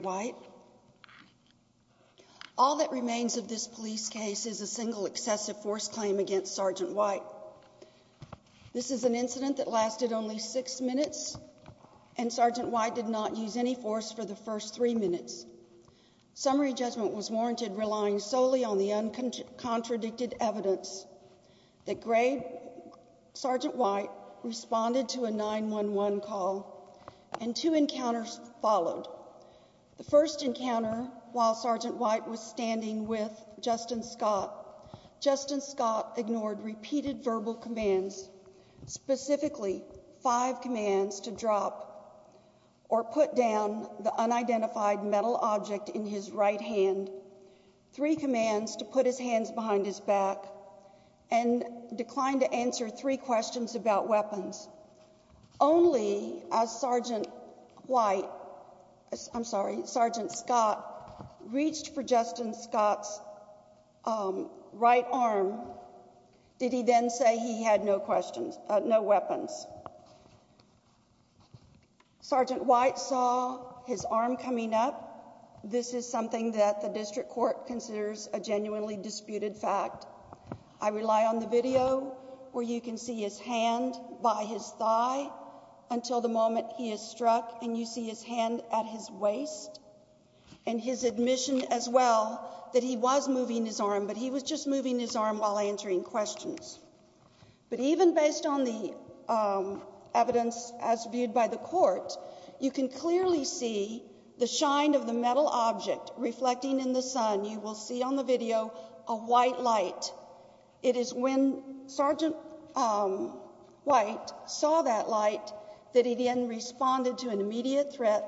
White. All that remains of this police case is a single excessive force claim against Sergeant White. This is an incident that lasted only six minutes and Sergeant White did not use any force for the first three minutes. Summary judgment was warranted relying solely on the uncontradicted evidence that Sergeant White responded to a 9-1-1 call and two encounters followed. The first encounter while Sergeant White was standing with Justin Scott, Justin Scott ignored repeated verbal commands, specifically five commands to drop or put down the unidentified metal object in his right hand, three commands to put his hands behind his back and declined to answer three questions about weapons. Only as Sergeant Scott reached for Justin Scott's right arm did he then say he had no questions, no weapons. Sergeant White saw his arm coming up. This is something that the district court considers a genuinely disputed fact. I rely on the video where you can see his hand by his thigh until the moment he is struck and you see his hand at his waist and his admission as well that he was moving his arm but he was just moving his arm while answering questions. But even based on the evidence as viewed by the court, you can clearly see the shine of the metal object reflecting in the sun. You will see on the video a white light. It is when Sergeant White saw that light that he then responded to an immediate threat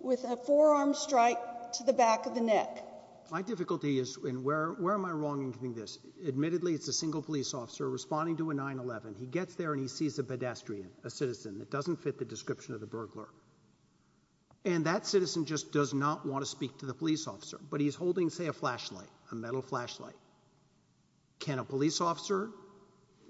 with a forearm strike to the back of the neck. My difficulty is, and where am I wrong in doing this, admittedly it's a single police officer responding to a 9-1-1. He gets there and he sees a pedestrian, a citizen that doesn't fit the description of the burglar and that citizen just does not want to speak to the police officer. But he's holding, say, a flashlight, a metal flashlight. Can a police officer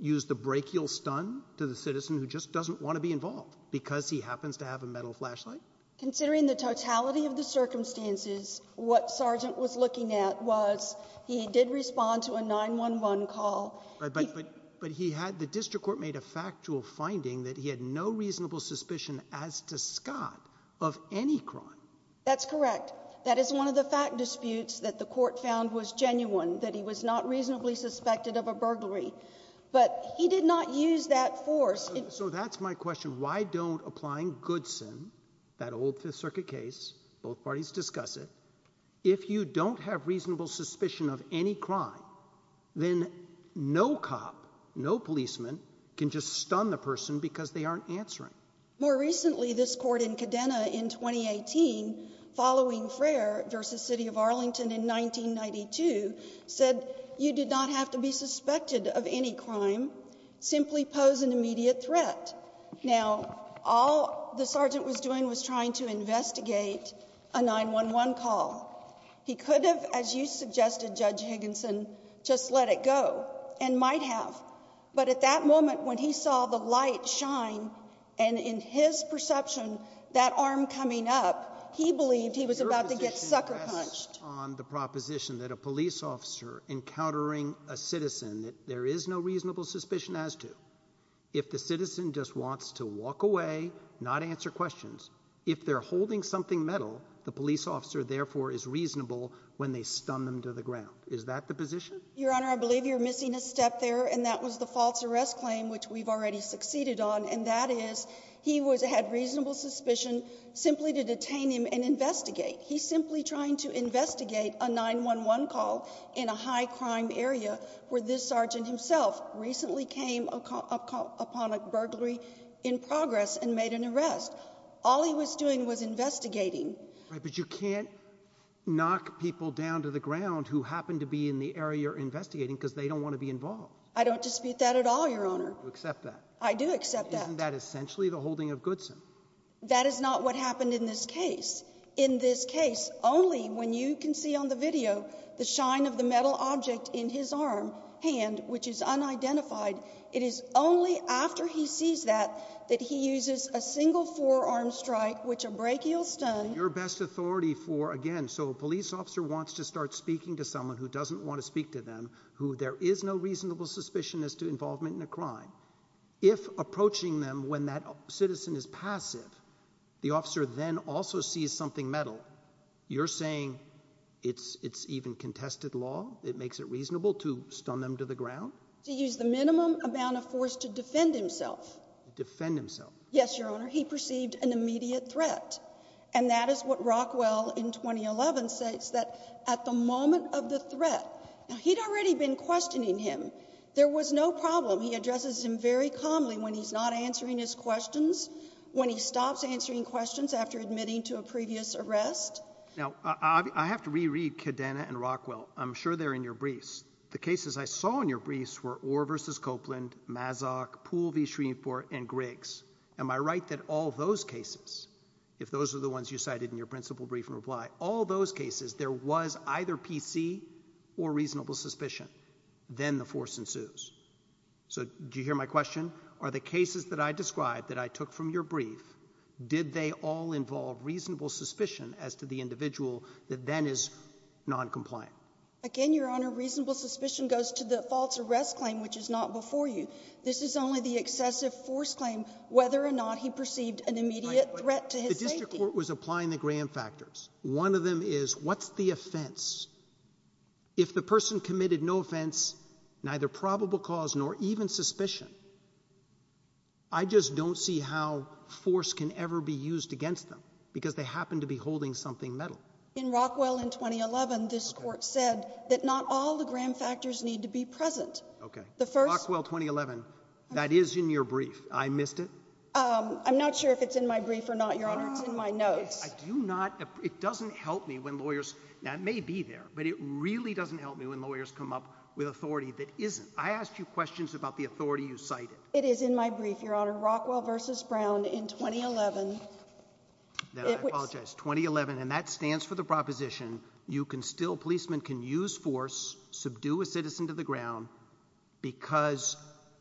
use the brachial stun to the citizen who just doesn't want to be involved because he happens to have a metal flashlight? Considering the totality of the circumstances, what Sergeant was looking at was he did respond to a 9-1-1 call. But he had, the district court made a factual finding that he had no reasonable suspicion as to Scott of any crime. That's correct. That is one of the fact disputes that the court found was genuine, that he was not reasonably suspected of a burglary. But he did not use that force. So that's my question. Why don't applying Goodson, that old Fifth Circuit case, both parties discuss it, if you don't have reasonable suspicion of any crime, then no cop, no policeman can just stun the person because they aren't answering. More recently, this court in Cadena in 2018, following Frayer versus City of Arlington in 1992, said you did not have to be suspected of any crime. Simply pose an immediate threat. Now, all the sergeant was doing was trying to investigate a 9-1-1 call. He could have, as you suggested Judge Higginson, just let it go and might have. But at that moment, when he saw the light shine and in his perception that arm coming up, he believed he was about to get sucker punched on the proposition that a police officer encountering a citizen that there is no reasonable suspicion as to if the citizen just wants to walk away, not answer questions. If they're holding something metal, the police officer therefore is reasonable when they stun them to the ground. Is that the position? Your Honor, I believe you're missing a step there, and that was the false arrest claim, which we've already succeeded on. And that is he was had reasonable suspicion simply to detain him and investigate. He's simply trying to investigate a 9-1-1 call in a high crime area where this sergeant himself recently came upon a burglary in progress and made an arrest. All he was doing was investigating. But you can't knock people down to the ground who happen to be in the area you're investigating because they don't want to be involved. I don't dispute that at all, Your Honor. You accept that? I do accept that. Isn't that essentially the holding of Goodson? That is not what happened in this case. In this case, only when you can see on the video the shine of the metal object in his arm hand, which is unidentified, it is only after he sees that that he uses a single forearm strike, which a brachial stun. Your best authority for, again, so a police officer wants to start speaking to someone who doesn't want to speak to them, who there is no reasonable suspicion as to involvement in a crime, if approaching them when that citizen is passive, the officer then also sees something metal, you're saying it's even contested law? It makes it reasonable to stun them to the ground? To use the minimum amount of force to defend himself. Defend himself? Yes, Your Honor. I have to re-read Cadena and Rockwell. I'm sure they're in your briefs. The cases I saw in your briefs were Orr v. Copeland, Mazok, Poole v. Shreveport, and Griggs. Am I right that all those cases, if those are the ones you cited in your principal brief and reply, all those cases there was either PC or reasonable suspicion, then the force ensues. So do you hear my question? Are the cases that I described that I took from your brief, did they all involve reasonable suspicion as to the individual that then is non-compliant? Again, Your Honor, reasonable suspicion goes to the false arrest claim, which is not before you. This is only the excessive force claim, whether or not he perceived an immediate threat to his safety. The district court was applying the Graham factors. One of them is, what's the offense? If the person committed no offense, neither probable cause nor even suspicion, I just don't see how force can ever be used against them, because they happen to be holding something metal. In Rockwell in 2011, this court said that not all the Graham factors need to be present. Rockwell 2011, that is in your brief. I missed it? I'm not sure if it's in my brief or not, Your Honor. It's in my notes. I do not, it doesn't help me when lawyers, now it may be there, but it really doesn't help me when lawyers come up with authority that isn't. I asked you questions about the authority you cited. It is in my brief, Your Honor. Rockwell v. Brown in 2011. I apologize. 2011. And that stands for the proposition. You can still, policemen can use force, subdue a citizen to the ground because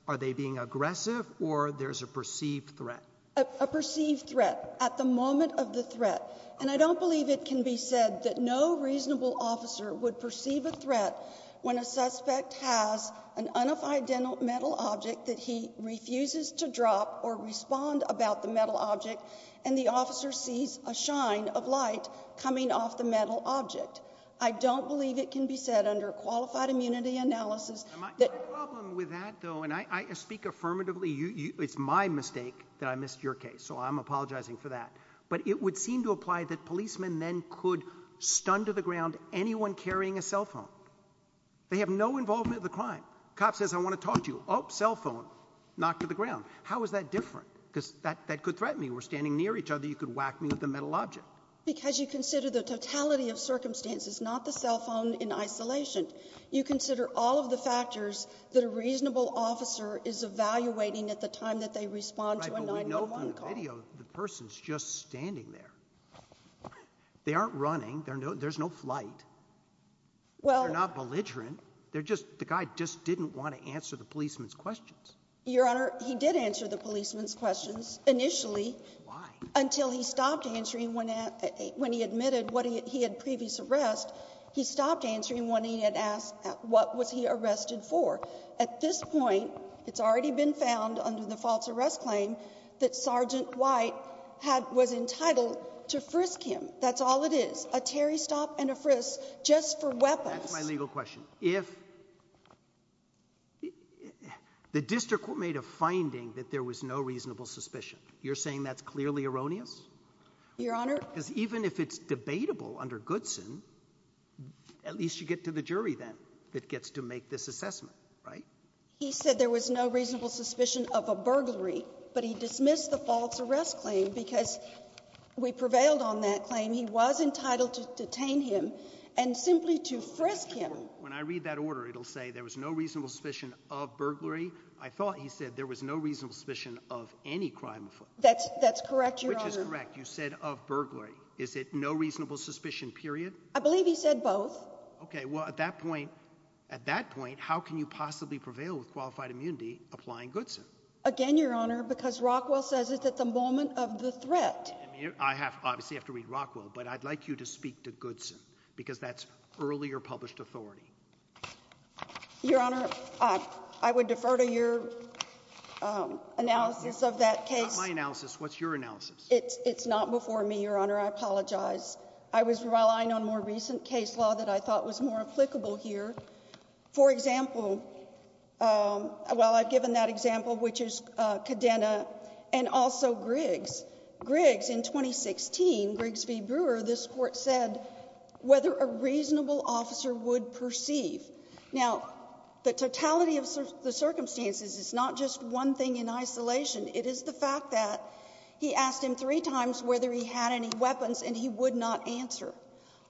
are they being aggressive or there's a perceived threat, a perceived threat at the moment of the threat. And I don't believe it can be said that no reasonable officer would perceive a threat when a suspect has an unidentified metal object that he refuses to drop or respond about the metal object. And the officer sees a shine of light coming off the metal object. I don't believe it can be said under qualified immunity analysis. My problem with that though, and I speak affirmatively, it's my mistake that I missed your case. So I'm apologizing for that. But it would seem to apply that policemen then could stun to the ground anyone carrying a cell phone. They have no involvement of the crime. Cop says, I want to talk to you. Oh, cell phone knocked to the ground. How is that different? Because that that could threaten me. We're standing near each other. You could whack me with the metal object because you consider the totality of circumstances, not the cell phone in isolation. You consider all of the factors that a reasonable officer is evaluating at the time that they respond to a 911 call. The person's just standing there. They aren't running. There's no there's no flight. Well, not belligerent. They're just the guy just didn't want to answer the policeman's questions. Your Honor, he did answer the policeman's questions initially until he stopped answering when when he admitted what he had previous arrest. He stopped answering when he had asked what was he arrested for? At this point, it's already been found under the false arrest claim that Sergeant White had was entitled to frisk him. That's all it is. A Terry stop and a frisk just for weapons. My legal question. If the district made a finding that there was no reasonable suspicion, you're saying that's clearly erroneous. Your Honor, even if it's debatable under Goodson, at least you get to the jury, then it gets to make this assessment, right? He said there was no reasonable suspicion of a burglary, but he dismissed the false arrest claim because we prevailed on that claim. He was entitled to detain him and simply to frisk him. When I read that order, it'll say there was no reasonable suspicion of burglary. I thought he said there was no reasonable suspicion of any crime. That's that's correct. You said of burglary. Is it no reasonable suspicion period? I believe he said both. Okay, well, at that point, at that point, how can you possibly prevail with qualified immunity applying Goodson again? Your Honor? Because Rockwell says it's at the moment of the threat. I have obviously have to read Rockwell, but I'd like you to speak to Goodson because that's earlier published authority. Your Honor, I would defer to your analysis of that case. My analysis. What's your analysis? It's not before me, Your Honor. I apologize. I was relying on more recent case law that I thought was more applicable here. For example, well, I've given that example, which is cadena and also Griggs Griggs in 2016 Grigsby Brewer. This court said whether a reasonable officer would perceive. Now, the totality of the circumstances is not just one thing in isolation. It is the fact that he asked him three times whether he had any weapons and he would not answer.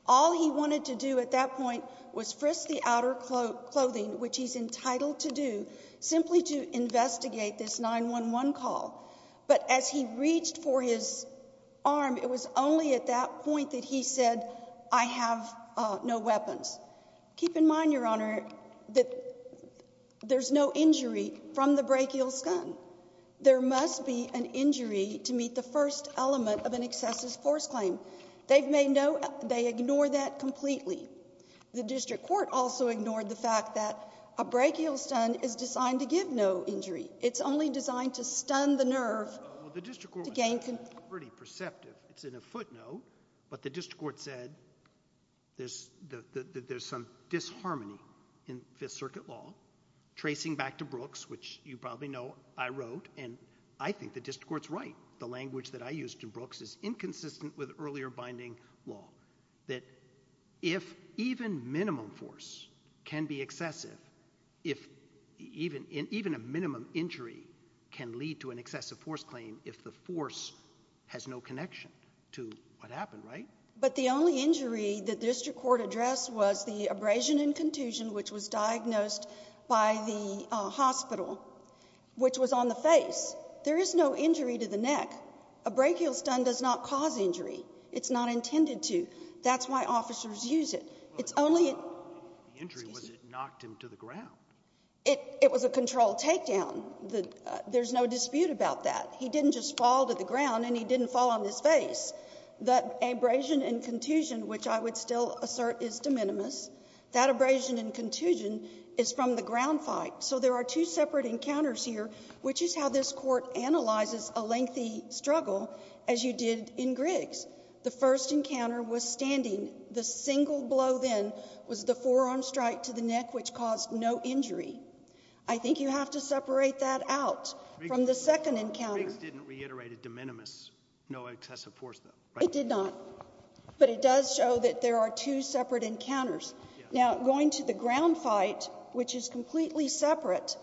All he wanted to do at that point was frisk the outer clothing, which he's entitled to do simply to investigate this 911 call. But as he reached for his arm, it was only at that point that he said, I have no weapons. Keep in mind, Your Honor, that there's no injury from the brachial scum. There must be an injury to meet the first element of an excessive force claim. They've made no. They ignore that completely. The district court also ignored the fact that a brachial stun is designed to give no injury. It's only designed to stun the nerve to gain pretty perceptive. It's in a footnote, but the district court said there's some disharmony in Fifth Circuit law, tracing back to Brooks, which you probably know I wrote. And I think the district court's right. The language that I used in Brooks is inconsistent with earlier binding law that if even minimum force can be excessive, if even a minimum injury can lead to an excessive force claim, if the force has no connection. To what happened, right? But the only injury that district court address was the abrasion and contusion, which was diagnosed by the hospital, which was on the face. There is no injury to the neck. A brachial stun does not cause injury. It's not intended to. That's why officers use it. It's only injury was it knocked him to the ground. It was a control takedown. There's no dispute about that. He didn't just fall to the ground and he didn't fall on his face. That abrasion and contusion, which I would still assert is de minimis. That abrasion and contusion is from the ground fight. So there are two separate encounters here, which is how this court analyzes a lengthy struggle, as you did in Griggs. The first encounter was standing. The single blow then was the forearm strike to the neck, which caused no injury. I think you have to separate that out from the second encounter. Griggs didn't reiterate a de minimis, no excessive force though, right? It did not. But it does show that there are two separate encounters. Now, going to the ground fight, which is completely separate,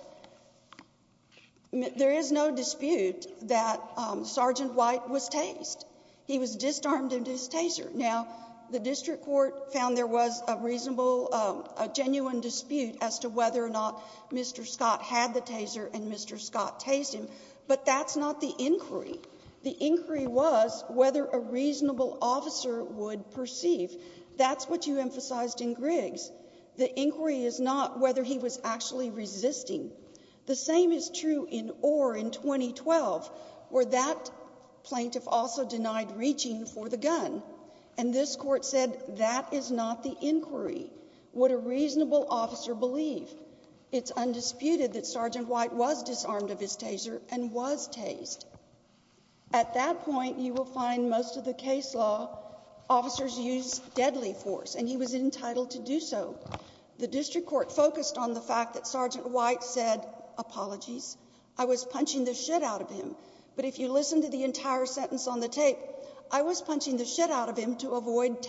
there is no dispute that Sergeant White was tased. He was disarmed into his taser. Now, the district court found there was a reasonable, a genuine dispute as to whether or not Mr. Scott had the taser and Mr. Scott tased him. But that's not the inquiry. The inquiry was whether a reasonable officer would perceive. That's what you emphasized in Griggs. The inquiry is not whether he was actually resisting. The same is true in Orr in 2012, where that plaintiff also denied reaching for the gun. And this court said that is not the inquiry. Would a reasonable officer believe? It's undisputed that Sergeant White was disarmed of his taser and was tased. At that point, you will find most of the case law officers use deadly force, and he was entitled to do so. The district court focused on the fact that Sergeant White said, Apologies. I was punching the shit out of him. But if you listen to the entire sentence on the tape, I was punching the shit out of him to avoid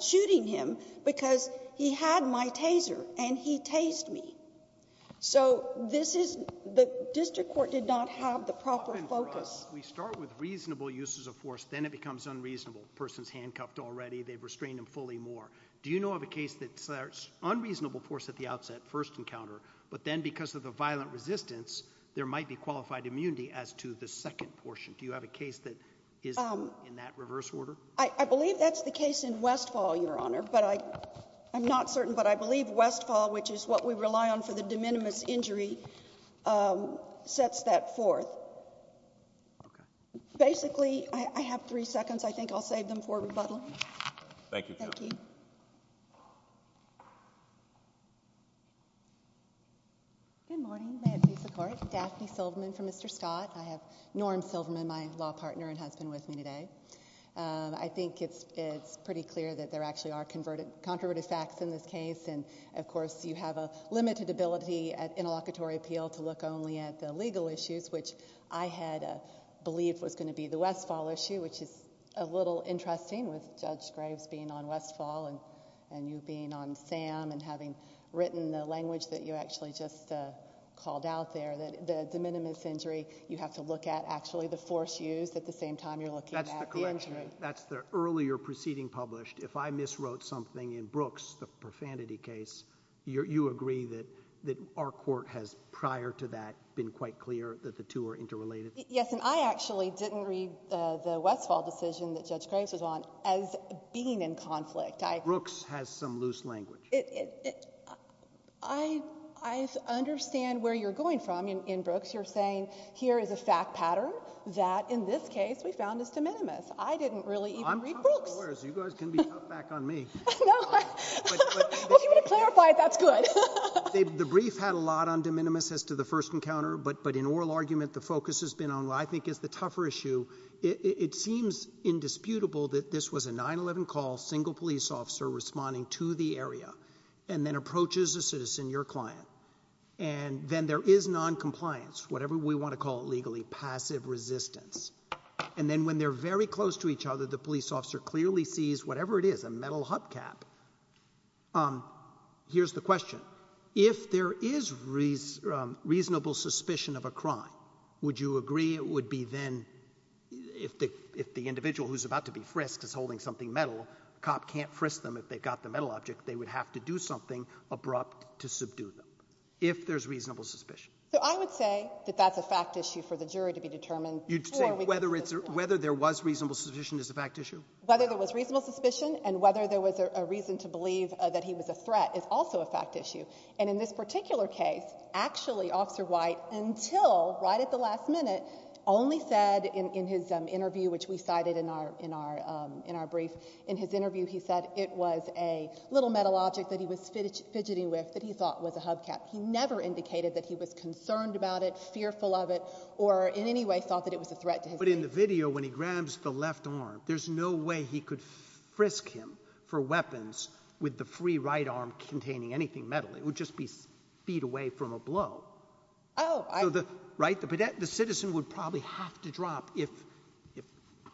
shooting him because he had my taser and he tased me. So this is, the district court did not have the proper focus. We start with reasonable uses of force, then it becomes unreasonable. The person's handcuffed already, they've restrained him fully more. Do you know of a case that starts unreasonable force at the outset, first encounter, but then because of the violent resistance, there might be qualified immunity as to the second portion? Do you have a case that is in that reverse order? I believe that's the case in Westfall, Your Honor, but I'm not certain. But I believe Westfall, which is what we rely on for the de minimis injury, sets that forth. Basically, I have three seconds. I think I'll save them for rebuttal. Thank you, Judge. Good morning, Mayors of the District Court. Daphne Silverman for Mr. Scott. I have Norm Silverman, my law partner and husband, with me today. I think it's pretty clear that there actually are controversial facts in this case and, of course, you have a limited ability at interlocutory appeal to look only at the legal issues, which I had believed was going to be the Westfall issue, which is a little interesting with Judge Graves being on Westfall and you being on SAM and having written the language that you actually just called out there, that the de minimis injury, you have to look at actually the force used at the same time you're looking at the injury. That's the earlier proceeding published. If I miswrote something in Brooks, the profanity case, you agree that our court has, prior to that, been quite clear that the two are interrelated? Yes, and I actually didn't read the Westfall decision that Judge Graves was on as being in conflict. Brooks has some loose language. I understand where you're going from in Brooks. You're saying here is a fact pattern that, in this case, we found is de minimis. I didn't really even read Brooks. I'm top lawyers. You guys can be tough back on me. No, I'm hoping you're going to clarify it. That's good. The brief had a lot on de minimis as to the first encounter, but in oral argument, the focus has been on what I think is the tougher issue. It seems indisputable that this was a 9-11 call, single police officer responding to the area, and then approaches a citizen, your client. And then there is noncompliance, whatever we want to call it legally, passive resistance. And then when they're very close to each other, the police officer clearly sees whatever it is, a metal hubcap. Here's the question. If there is reasonable suspicion of a crime, would you agree it would be then, if the individual who's about to be frisked is holding something metal, a cop can't frisk them if they've got the metal object, they would have to do something abrupt to subdue them, if there's reasonable suspicion? So I would say that that's a fact issue for the jury to be determined. You'd say whether there was reasonable suspicion is a fact issue? Whether there was reasonable suspicion and whether there was a reason to believe that he was a threat is also a fact issue. And in this particular case, actually, Officer White, until right at the last minute, only said in his interview, which we cited in our brief, in his interview, he said it was a little metal object that he was fidgeting with that he thought was a hubcap. He never indicated that he was concerned about it, fearful of it, or in any way thought that it was a threat to his safety. But in the video, when he grabs the left arm, there's no way he could frisk him for weapons with the free right arm containing anything metal. It would just be feet away from a blow. Oh, I... Right? The citizen would probably have to drop if...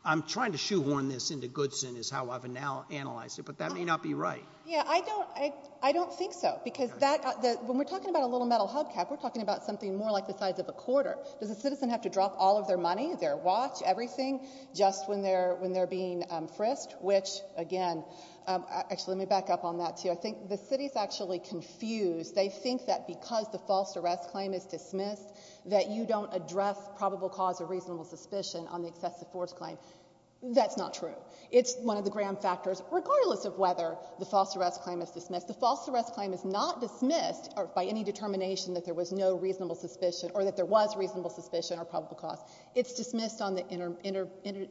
I'm trying to shoehorn this into Goodson is how I've analyzed it, but that may not be right. Yeah, I don't think so, because when we're talking about a little metal hubcap, we're talking about something more like the size of a quarter. Does a citizen have to drop all of their money, their watch, everything, just when they're being frisked? Which, again... Actually, let me back up on that, too. I think the city's actually confused. They think that because the false arrest claim is dismissed, that you don't address probable cause or reasonable suspicion on the excessive force claim. That's not true. It's one of the grand factors, regardless of whether the false arrest claim is dismissed. The false arrest claim is not dismissed by any determination that there was no reasonable suspicion, or that there was reasonable suspicion, or probable cause. It's dismissed on the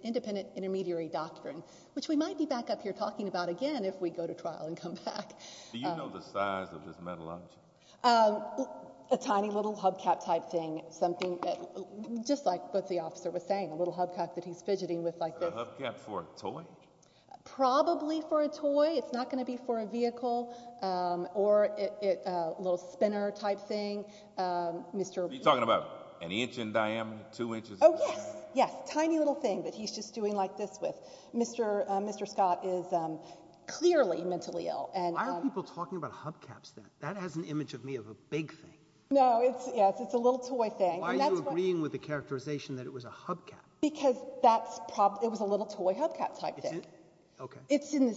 independent intermediary doctrine, which we might be back up here talking about again if we go to trial and come back. Do you know the size of this metal object? A tiny little hubcap-type thing, something that... Just like what the officer was saying, a little hubcap that he's fidgeting with like this. Is the hubcap for a toy? Probably for a toy. It's not going to be for a vehicle, or a little spinner-type thing. Are you talking about an inch in diameter? Two inches? Oh, yes. Yes. Tiny little thing that he's just doing like this with. Mr. Scott is clearly mentally ill. Why are people talking about hubcaps then? That has an image of me of a big thing. No. Yes. It's a little toy thing. Why are you agreeing with the characterization that it was a hubcap? Because it was a little toy hubcap-type thing. Is it? Okay. It's in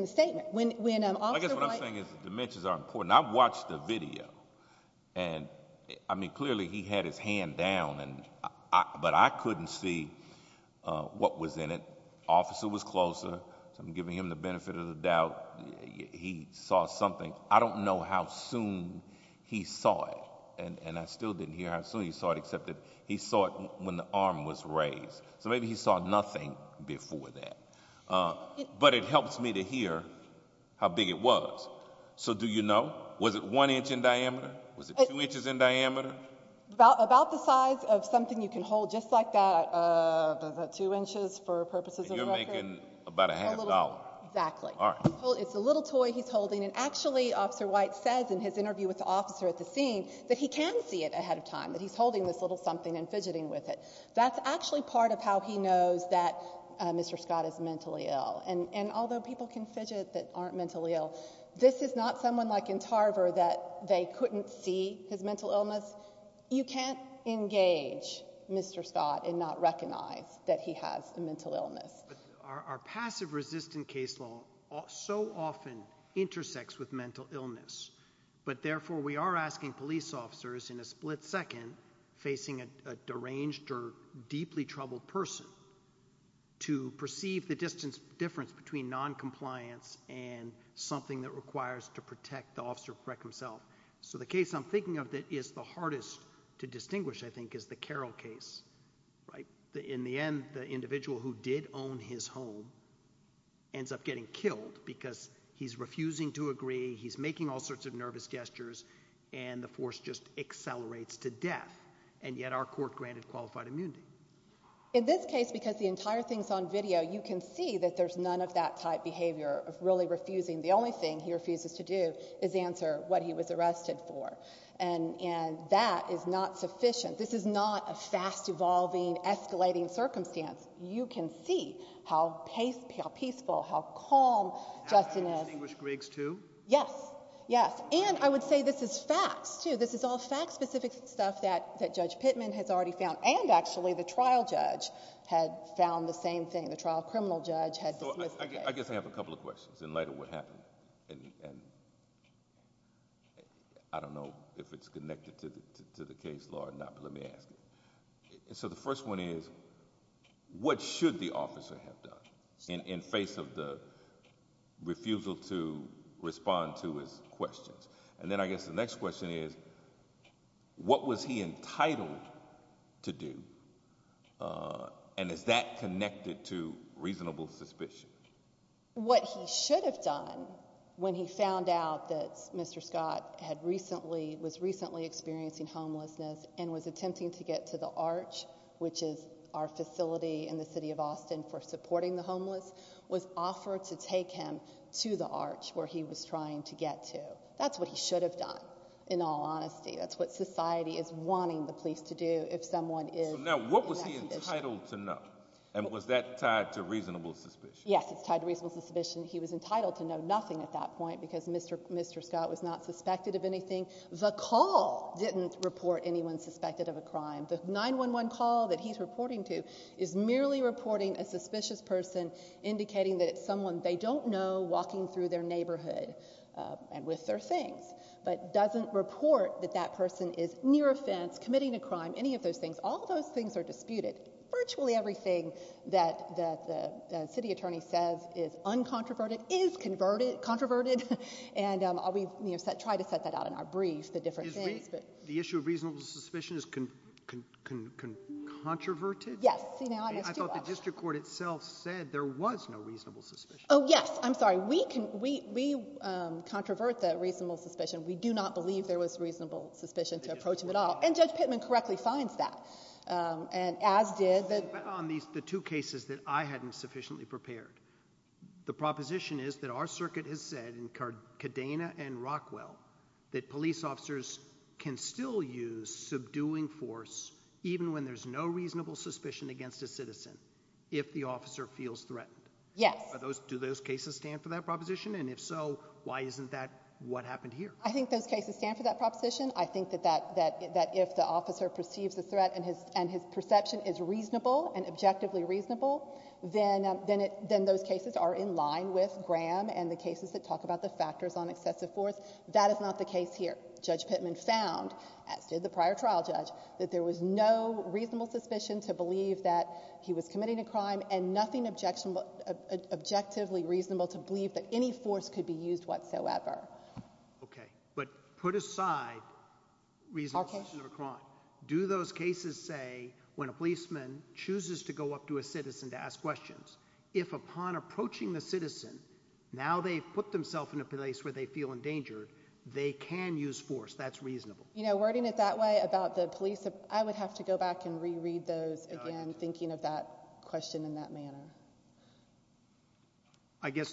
the statement. When Officer White... I guess what I'm saying is the dimensions are important. I've watched the video, and clearly he had his hand down, but I couldn't see what was in it. Officer was closer. I'm giving him the benefit of the doubt. He saw something. I don't know how soon he saw it, and I still didn't hear how soon he saw it, except that he saw it when the arm was raised. Maybe he saw nothing before that, but it helps me to hear how big it was. So do you know? Was it one inch in diameter? Was it two inches in diameter? About the size of something you can hold, just like that. Two inches for purposes of record. You're making about a half dollar. Exactly. It's a little toy he's holding. Actually, Officer White says in his interview with the officer at the scene that he can see it ahead of time, that he's holding this little something and fidgeting with it. That's actually part of how he knows that Mr. Scott is mentally ill. Although people can fidget that aren't mentally ill, this is not someone like in Tarver that they couldn't see his mental illness. You can't engage Mr. Scott and not recognize that he has a mental illness. Our passive resistant case law so often intersects with mental illness, but therefore, we are asking police officers in a split second facing a deranged or deeply troubled person to perceive the distance difference between non-compliance and something that requires to protect the officer himself. So the case I'm thinking of that is the hardest to distinguish, I think, is the Carroll case, right? In the end, the individual who did own his home ends up getting killed because he's refusing to agree. He's making all sorts of nervous gestures and the force just accelerates to death. And yet our court granted qualified immunity. In this case, because the entire thing's on video, you can see that there's none of that type behavior of really refusing. The only thing he refuses to do is answer what he was arrested for. And that is not sufficient. This is not a fast evolving, escalating circumstance. You can see how peaceful, how calm Justin is. And I would say this is facts too. This is all fact specific stuff that Judge Pittman has already found. And actually, the trial judge had found the same thing. The trial criminal judge had dismissed it. I guess I have a couple of questions in light of what happened. And I don't know if it's connected to the case law or not, but let me ask it. So the first one is, what should the officer have done in face of the refusal to respond to his questions? And then I guess the next question is, what was he entitled to do? And is that connected to reasonable suspicion? What he should have done when he found out that Mr. Scott had recently, was recently experiencing homelessness and was attempting to get to the arch, which is our facility in the city of Austin for supporting the homeless, was offered to take him to the arch where he was trying to get to. That's what he should have done, in all honesty. That's what society is wanting the police to do if someone is. So now what was he entitled to know? And was that tied to reasonable suspicion? Yes, it's tied to reasonable suspicion. He was entitled to know nothing at that point because Mr. Scott was not suspected of anything. The call didn't report anyone suspected of a crime. The 911 call that he's reporting to is merely reporting a walking through their neighborhood and with their things, but doesn't report that that person is near a fence, committing a crime, any of those things. All those things are disputed. Virtually everything that the city attorney says is uncontroverted, is converted, controverted. And I'll be, you know, try to set that out in our brief, the different things. The issue of reasonable suspicion is controverted? Yes. I thought the district court itself said there was no reasonable suspicion. Oh yes, I'm sorry. We can, we, we, um, controvert the reasonable suspicion. We do not believe there was reasonable suspicion to approach him at all. And Judge Pittman correctly finds that, um, and as did the... On these, the two cases that I hadn't sufficiently prepared, the proposition is that our circuit has said, in Cardena and Rockwell, that police officers can still use subduing force even when there's no reasonable suspicion against a citizen, if the officer feels threatened. Yes. Do those cases stand for that proposition? And if so, why isn't that what happened here? I think those cases stand for that proposition. I think that that, that, that if the officer perceives the threat and his, and his perception is reasonable and objectively reasonable, then, um, then it, then those cases are in line with Graham and the cases that talk about the factors on excessive force. That is not the case here. Judge Pittman found, as did the prior trial judge, that there was no reasonable suspicion to believe that he was committing a crime and nothing objectionable, objectively reasonable to believe that any force could be used whatsoever. Okay. But put aside reasonable suspicion of a crime. Do those cases say when a policeman chooses to go up to a citizen to ask questions, if upon approaching the citizen, now they've put themselves in a place where they feel endangered, they can use force, that's reasonable. You know, wording it that way about the police, I would have to go back and look at it in that manner. I guess,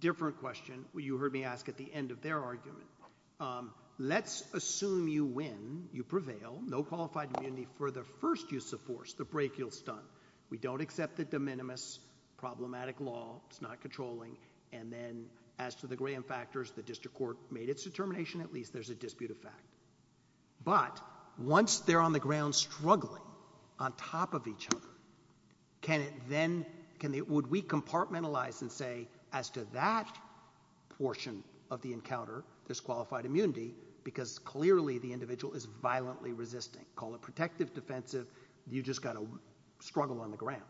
different question, you heard me ask at the end of their argument. Let's assume you win, you prevail, no qualified immunity for the first use of force, the break you'll stun. We don't accept the de minimis, problematic law, it's not controlling, and then as to the Graham factors, the district court made its determination, at least there's a dispute of fact. But, once they're on the ground struggling on top of each other, can it then, would we compartmentalize and say, as to that portion of the encounter, there's qualified immunity, because clearly the individual is violently resisting. Call it protective, defensive, you just got to struggle on the ground.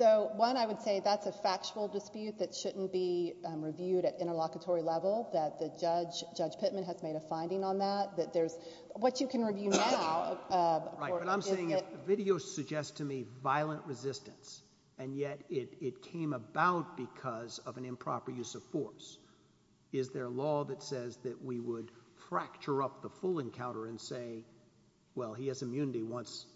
So, one, I would say that's a factual dispute that shouldn't be reviewed at interlocutory level, that the judge, Judge Pittman, has made a finding on that, that there's, what you can review now. Right, but I'm saying, if the video suggests to me violent resistance, and yet it came about because of an improper use of force, is there a law that says that we would fracture up the full encounter and say, well, he has immunity once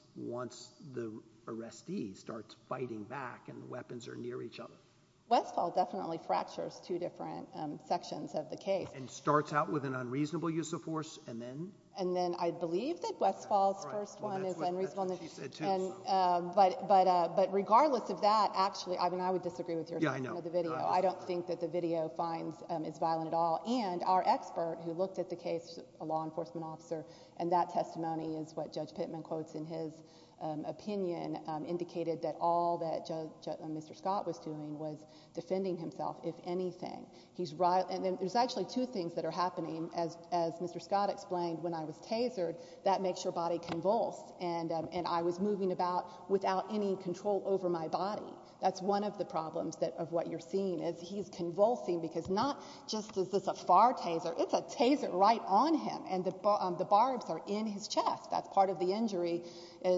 the arrestee starts fighting back and the weapons are near each other? Westfall definitely fractures two different sections of the case. And starts out with an unreasonable use of force, and then? And then, I believe that Westfall's first one is unreasonable. But, regardless of that, actually, I mean, I would disagree with your opinion of the video. I don't think that the video finds, is violent at all. And, our expert who looked at the case, a law enforcement officer, and that testimony is what Judge Pittman quotes in his opinion, indicated that all that Judge, Mr. Scott was doing was defending himself, if anything. He's right, and there's actually two things that are happening, as Mr. Scott explained, when I was tasered, that makes your body convulse, and I was moving about without any control over my body. That's one of the problems that, of what you're seeing, is he's convulsing, because not just is this a far taser, it's a taser right on him, and the barbs are in his chest. That's part of the injury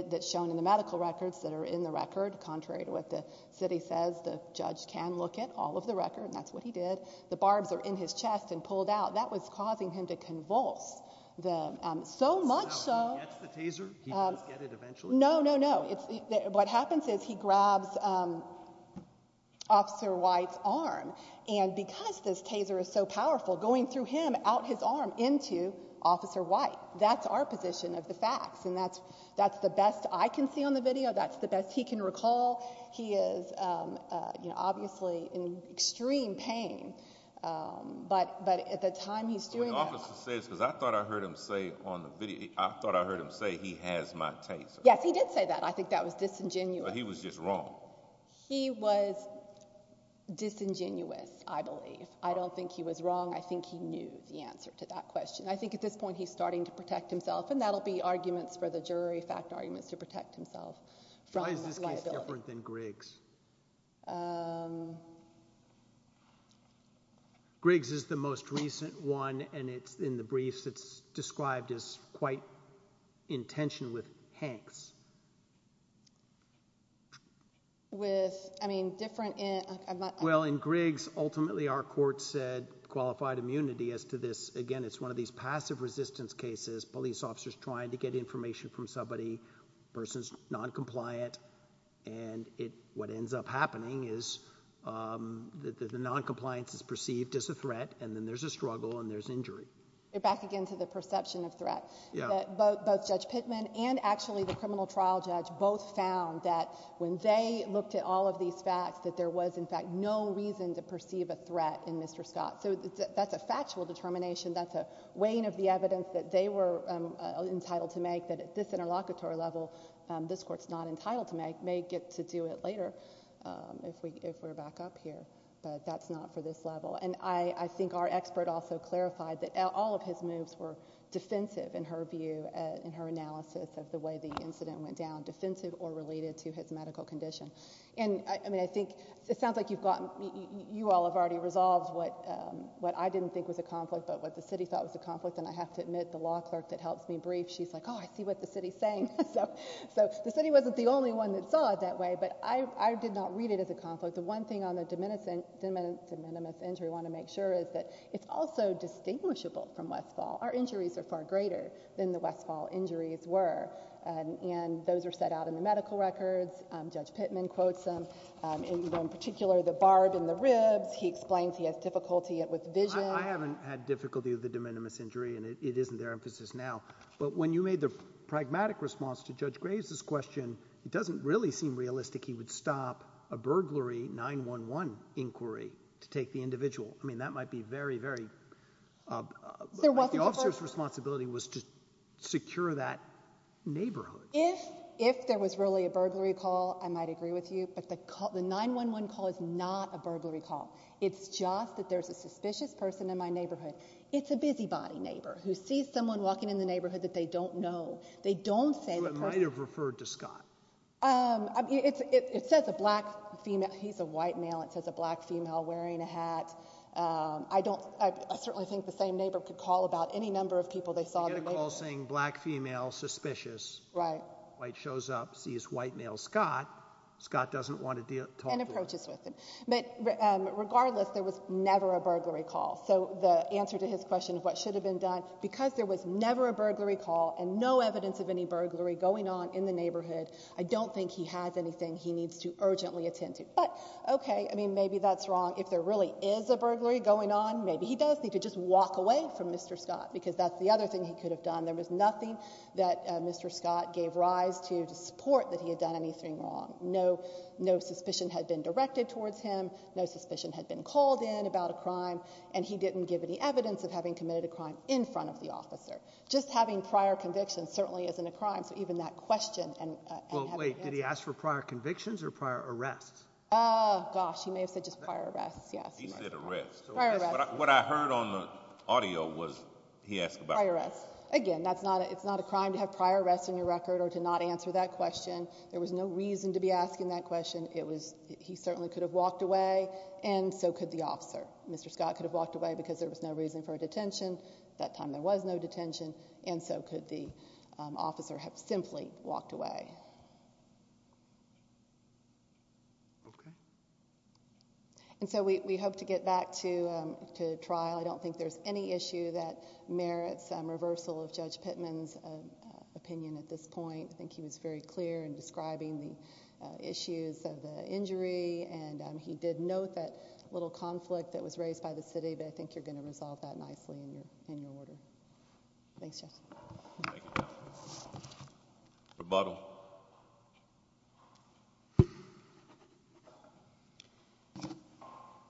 that's shown in the medical records, that are in the record, contrary to what the city says, the judge can look at all of the record, and that's what he did. The barbs are in his chest, and pulled out. That was causing him to convulse. So much so, no, no, no. What happens is, he grabs Officer White's arm, and because this taser is so powerful, going through him, out his arm, into Officer White. That's our position of the facts, and that's the best I can see on the video, that's the best he can recall. He is, you know, obviously in extreme pain, but at the time he's doing that. The officer says, because I thought I heard him say on the video, I thought I heard him say he has my taser. Yes, he did say that. I think that was disingenuous. He was just wrong. He was disingenuous, I believe. I don't think he was wrong. I think he knew the answer to that question. I think at this point, he's starting to protect himself, and that'll be arguments for the jury, fact arguments, to protect himself from liability. Why is this case different than Griggs? Griggs is the most recent one, and it's in the briefs, it's described as quite in tension with Hanks. With, I mean, different in... Well, in Griggs, ultimately, our court said qualified immunity as to this. Again, it's one of these passive resistance cases, police officers trying to get information from somebody, person's non-compliant, and what ends up happening is the non-compliance is perceived as a threat, and then there's a struggle, and there's injury. You're back again to the perception of threat. Both Judge Pittman and actually the criminal trial judge both found that when they looked at all of these facts, that there was, in fact, no reason to perceive a threat in Mr. Scott. So that's a factual determination, that's a weighing of the evidence that they were entitled to make, that at this interlocutory level, this court's not entitled to make, may get to do it later if we're back up here, but that's not for this level. And I think our expert also clarified that all of his moves were defensive, in her view, in her analysis of the way the incident went down, defensive or related to his medical condition. And I mean, I think it sounds like you've gotten, you all have already resolved what I didn't think was a conflict, but what the city thought was a conflict, and I have to admit, the law clerk that helps me brief, she's like, oh, I see what the city's saying. So the city wasn't the only one that saw it that way, but I did not read it as a conflict. The one thing on the de minimis injury I want to make sure is that it's also distinguishable from Westfall. Our injuries are far greater than the Westfall injuries were, and those are set out in medical records. Judge Pittman quotes them, in particular, the barb and the ribs. He explains he has difficulty with vision. I haven't had difficulty with the de minimis injury, and it isn't their emphasis now. But when you made the pragmatic response to Judge Graves's question, it doesn't really seem realistic he would stop a burglary 911 inquiry to take the individual. I mean, that might be very, very... The officer's responsibility was to secure that neighborhood. If there was really a burglary call, I might agree with you, but the 911 call is not a burglary call. It's just that there's a suspicious person in my neighborhood. It's a busybody neighbor who sees someone walking in the neighborhood that they don't know. They don't say... So it might have referred to Scott. It says a black female. He's a white male. It says a black female wearing a hat. I certainly think the same neighbor could call about any number of people they saw... Get a call saying black female, suspicious. White shows up, sees white male Scott. Scott doesn't want to talk to him. And approaches with him. But regardless, there was never a burglary call. So the answer to his question of what should have been done, because there was never a burglary call and no evidence of any burglary going on in the neighborhood, I don't think he has anything he needs to urgently attend to. But okay, I mean, maybe that's wrong. If there really is a burglary going on, maybe he could just walk away from Mr. Scott, because that's the other thing he could have done. There was nothing that Mr. Scott gave rise to to support that he had done anything wrong. No suspicion had been directed towards him. No suspicion had been called in about a crime. And he didn't give any evidence of having committed a crime in front of the officer. Just having prior convictions certainly isn't a crime. So even that question and... Well, wait, did he ask for prior convictions or prior arrests? Oh, gosh, he may have said just prior arrests. Yes. He said arrests. What I heard on the audio was he asked about... Prior arrests. Again, it's not a crime to have prior arrests in your record or to not answer that question. There was no reason to be asking that question. He certainly could have walked away, and so could the officer. Mr. Scott could have walked away because there was no reason for a detention. At that time, there was no detention, and so could the officer have simply walked away. Okay. And so we hope to get back to trial. I don't think there's any issue that merits reversal of Judge Pittman's opinion at this point. I think he was very clear in describing the issues of the injury, and he did note that little conflict that was raised by the city, but I think you're going to resolve that nicely in your order. Thanks, Judge. Thank you. Rebuttal.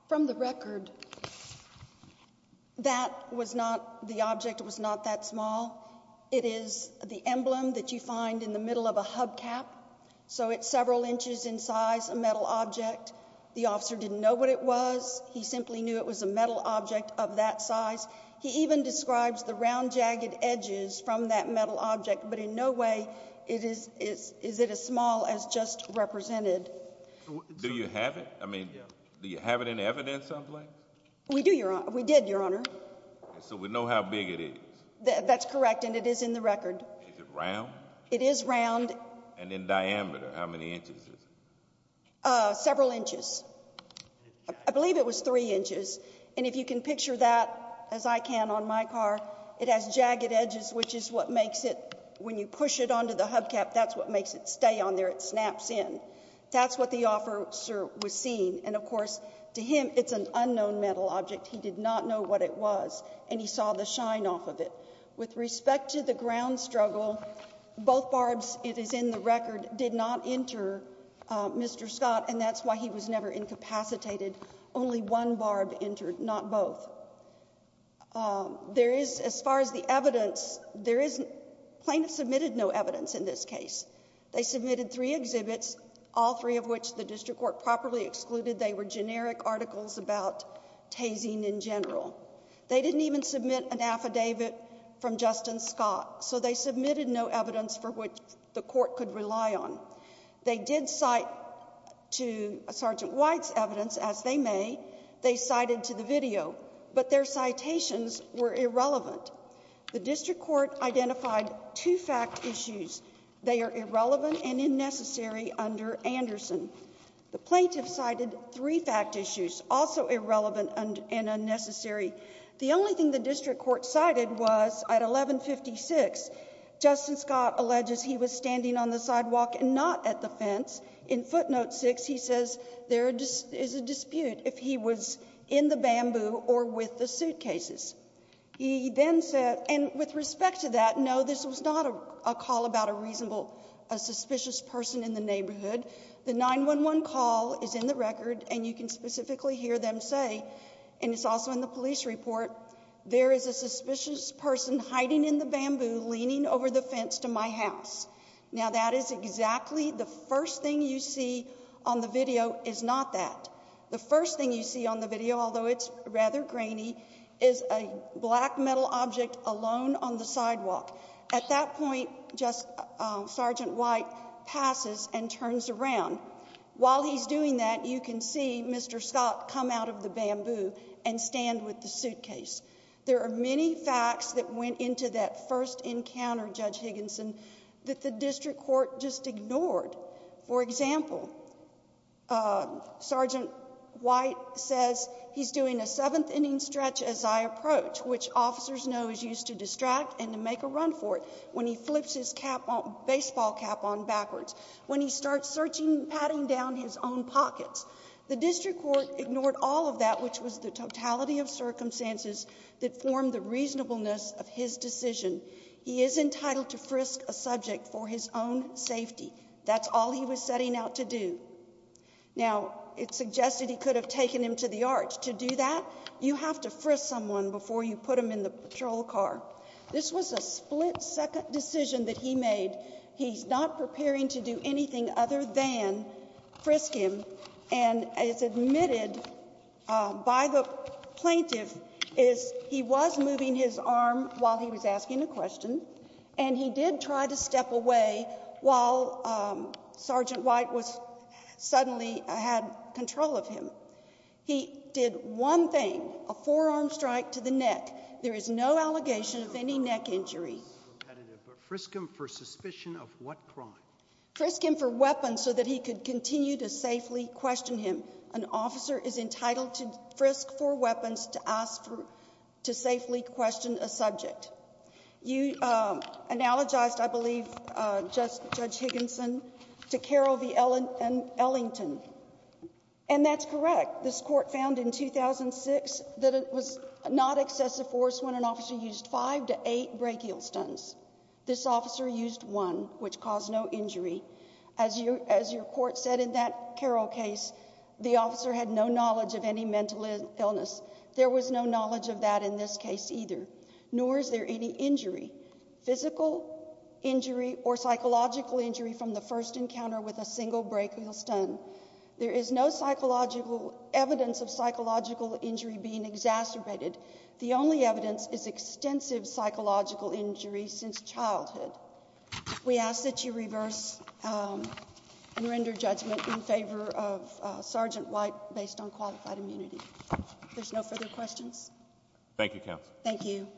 From the record, the object was not that small. It is the emblem that you find in the middle of a hubcap, so it's several inches in size, a metal object. The officer didn't know what it was. He simply knew it was a metal object of that size. He even describes the round, jagged edges from that metal object, but in no way is it as small as just represented. Do you have it? I mean, do you have it in evidence someplace? We do, Your Honor. We did, Your Honor. So we know how big it is. That's correct, and it is in the record. Is it round? It is round. And in diameter, how many inches is it? Several inches. I believe it was three inches, and if you can picture that as I can on my car, it has jagged edges, which is what makes it, when you push it onto the hubcap, that's what makes it stay on there. It snaps in. That's what the officer was seeing, and of course, to him, it's an unknown metal object. He did not know what it was, and he saw the shine off of it. With respect to the ground struggle, both barbs, it is in the record, did not enter Mr. Scott, and that's why he was never incapacitated. Only one barb entered, not both. As far as the evidence, plaintiffs submitted no evidence in this case. They submitted three exhibits, all three of which the district court properly excluded. They were generic articles about tasing in general. They didn't even submit an affidavit from Justin Scott, so they submitted no evidence for which the court could rely on. They did cite to Sergeant White's evidence, as they may. They cited to the video, but their citations were irrelevant. The district court identified two fact issues. They are irrelevant and unnecessary under Anderson. The plaintiff cited three fact issues, also irrelevant and unnecessary. The only thing the district court cited was at 1156, Justin Scott alleges he was standing on the sidewalk and not at the fence. In footnote six, he says there is a dispute if he was in the bamboo or with the suitcases. He then said, and with respect to that, no, this was not a call about a reasonable, a suspicious person in the neighborhood. The 911 call is in the record, and you can specifically hear them say, and it's also in the police report, there is a suspicious person hiding in the bamboo, leaning over the fence to my house. Now that is exactly the first thing you see on the video is not that. The first thing you see on the video, although it's rather grainy, is a black metal object alone on the sidewalk. At that point, Sergeant White passes and turns around. While he's doing that, you can see Mr. Scott come out of the bamboo and stand with the suitcase. There are many facts that went into that first encounter, Judge Higginson, that the district court just ignored. For example, Sergeant White says he's doing a seventh-inning stretch as I approach, which officers know is used to distract and to make a run for it when he flips his baseball cap on backwards, when he starts searching, patting down his own pockets. The district court ignored all of that, which was the totality of circumstances that formed the reasonableness of his decision. He is entitled to frisk a subject for his own safety. That's all he was setting out to do. Now, it suggested he could have taken him to the arch. To do that, you have to frisk someone before you put them in the patrol car. This was a split second decision that he made. He's not preparing to do anything other than frisk him. And it's admitted by the plaintiff is he was moving his arm while he was asking a question, and he did try to step away while Sergeant White suddenly had control of him. He did one thing, a forearm strike to the neck. There is no allegation of any neck injury. But frisk him for suspicion of what crime? Frisk him for weapons so that he could continue to safely question him. An officer is entitled to frisk for weapons to ask to safely question a subject. You analogized, I believe, Judge Higginson to Carol V. Ellington. And that's correct. This court found in 2006 that it was not excessive force when an officer used five to eight brachial stuns. This officer used one, which caused no injury. As your court said in that Carol case, the officer had no knowledge of any mental illness. There was no knowledge of that in this case either, nor is there any injury, physical injury or psychological injury from the first encounter with a single brachial stun. There is no psychological evidence of psychological injury being exacerbated. The only evidence is extensive psychological injury since childhood. We ask that you reverse and render judgment in favor of Sergeant White based on qualified immunity. There's no further questions. Thank you, counsel. Thank you.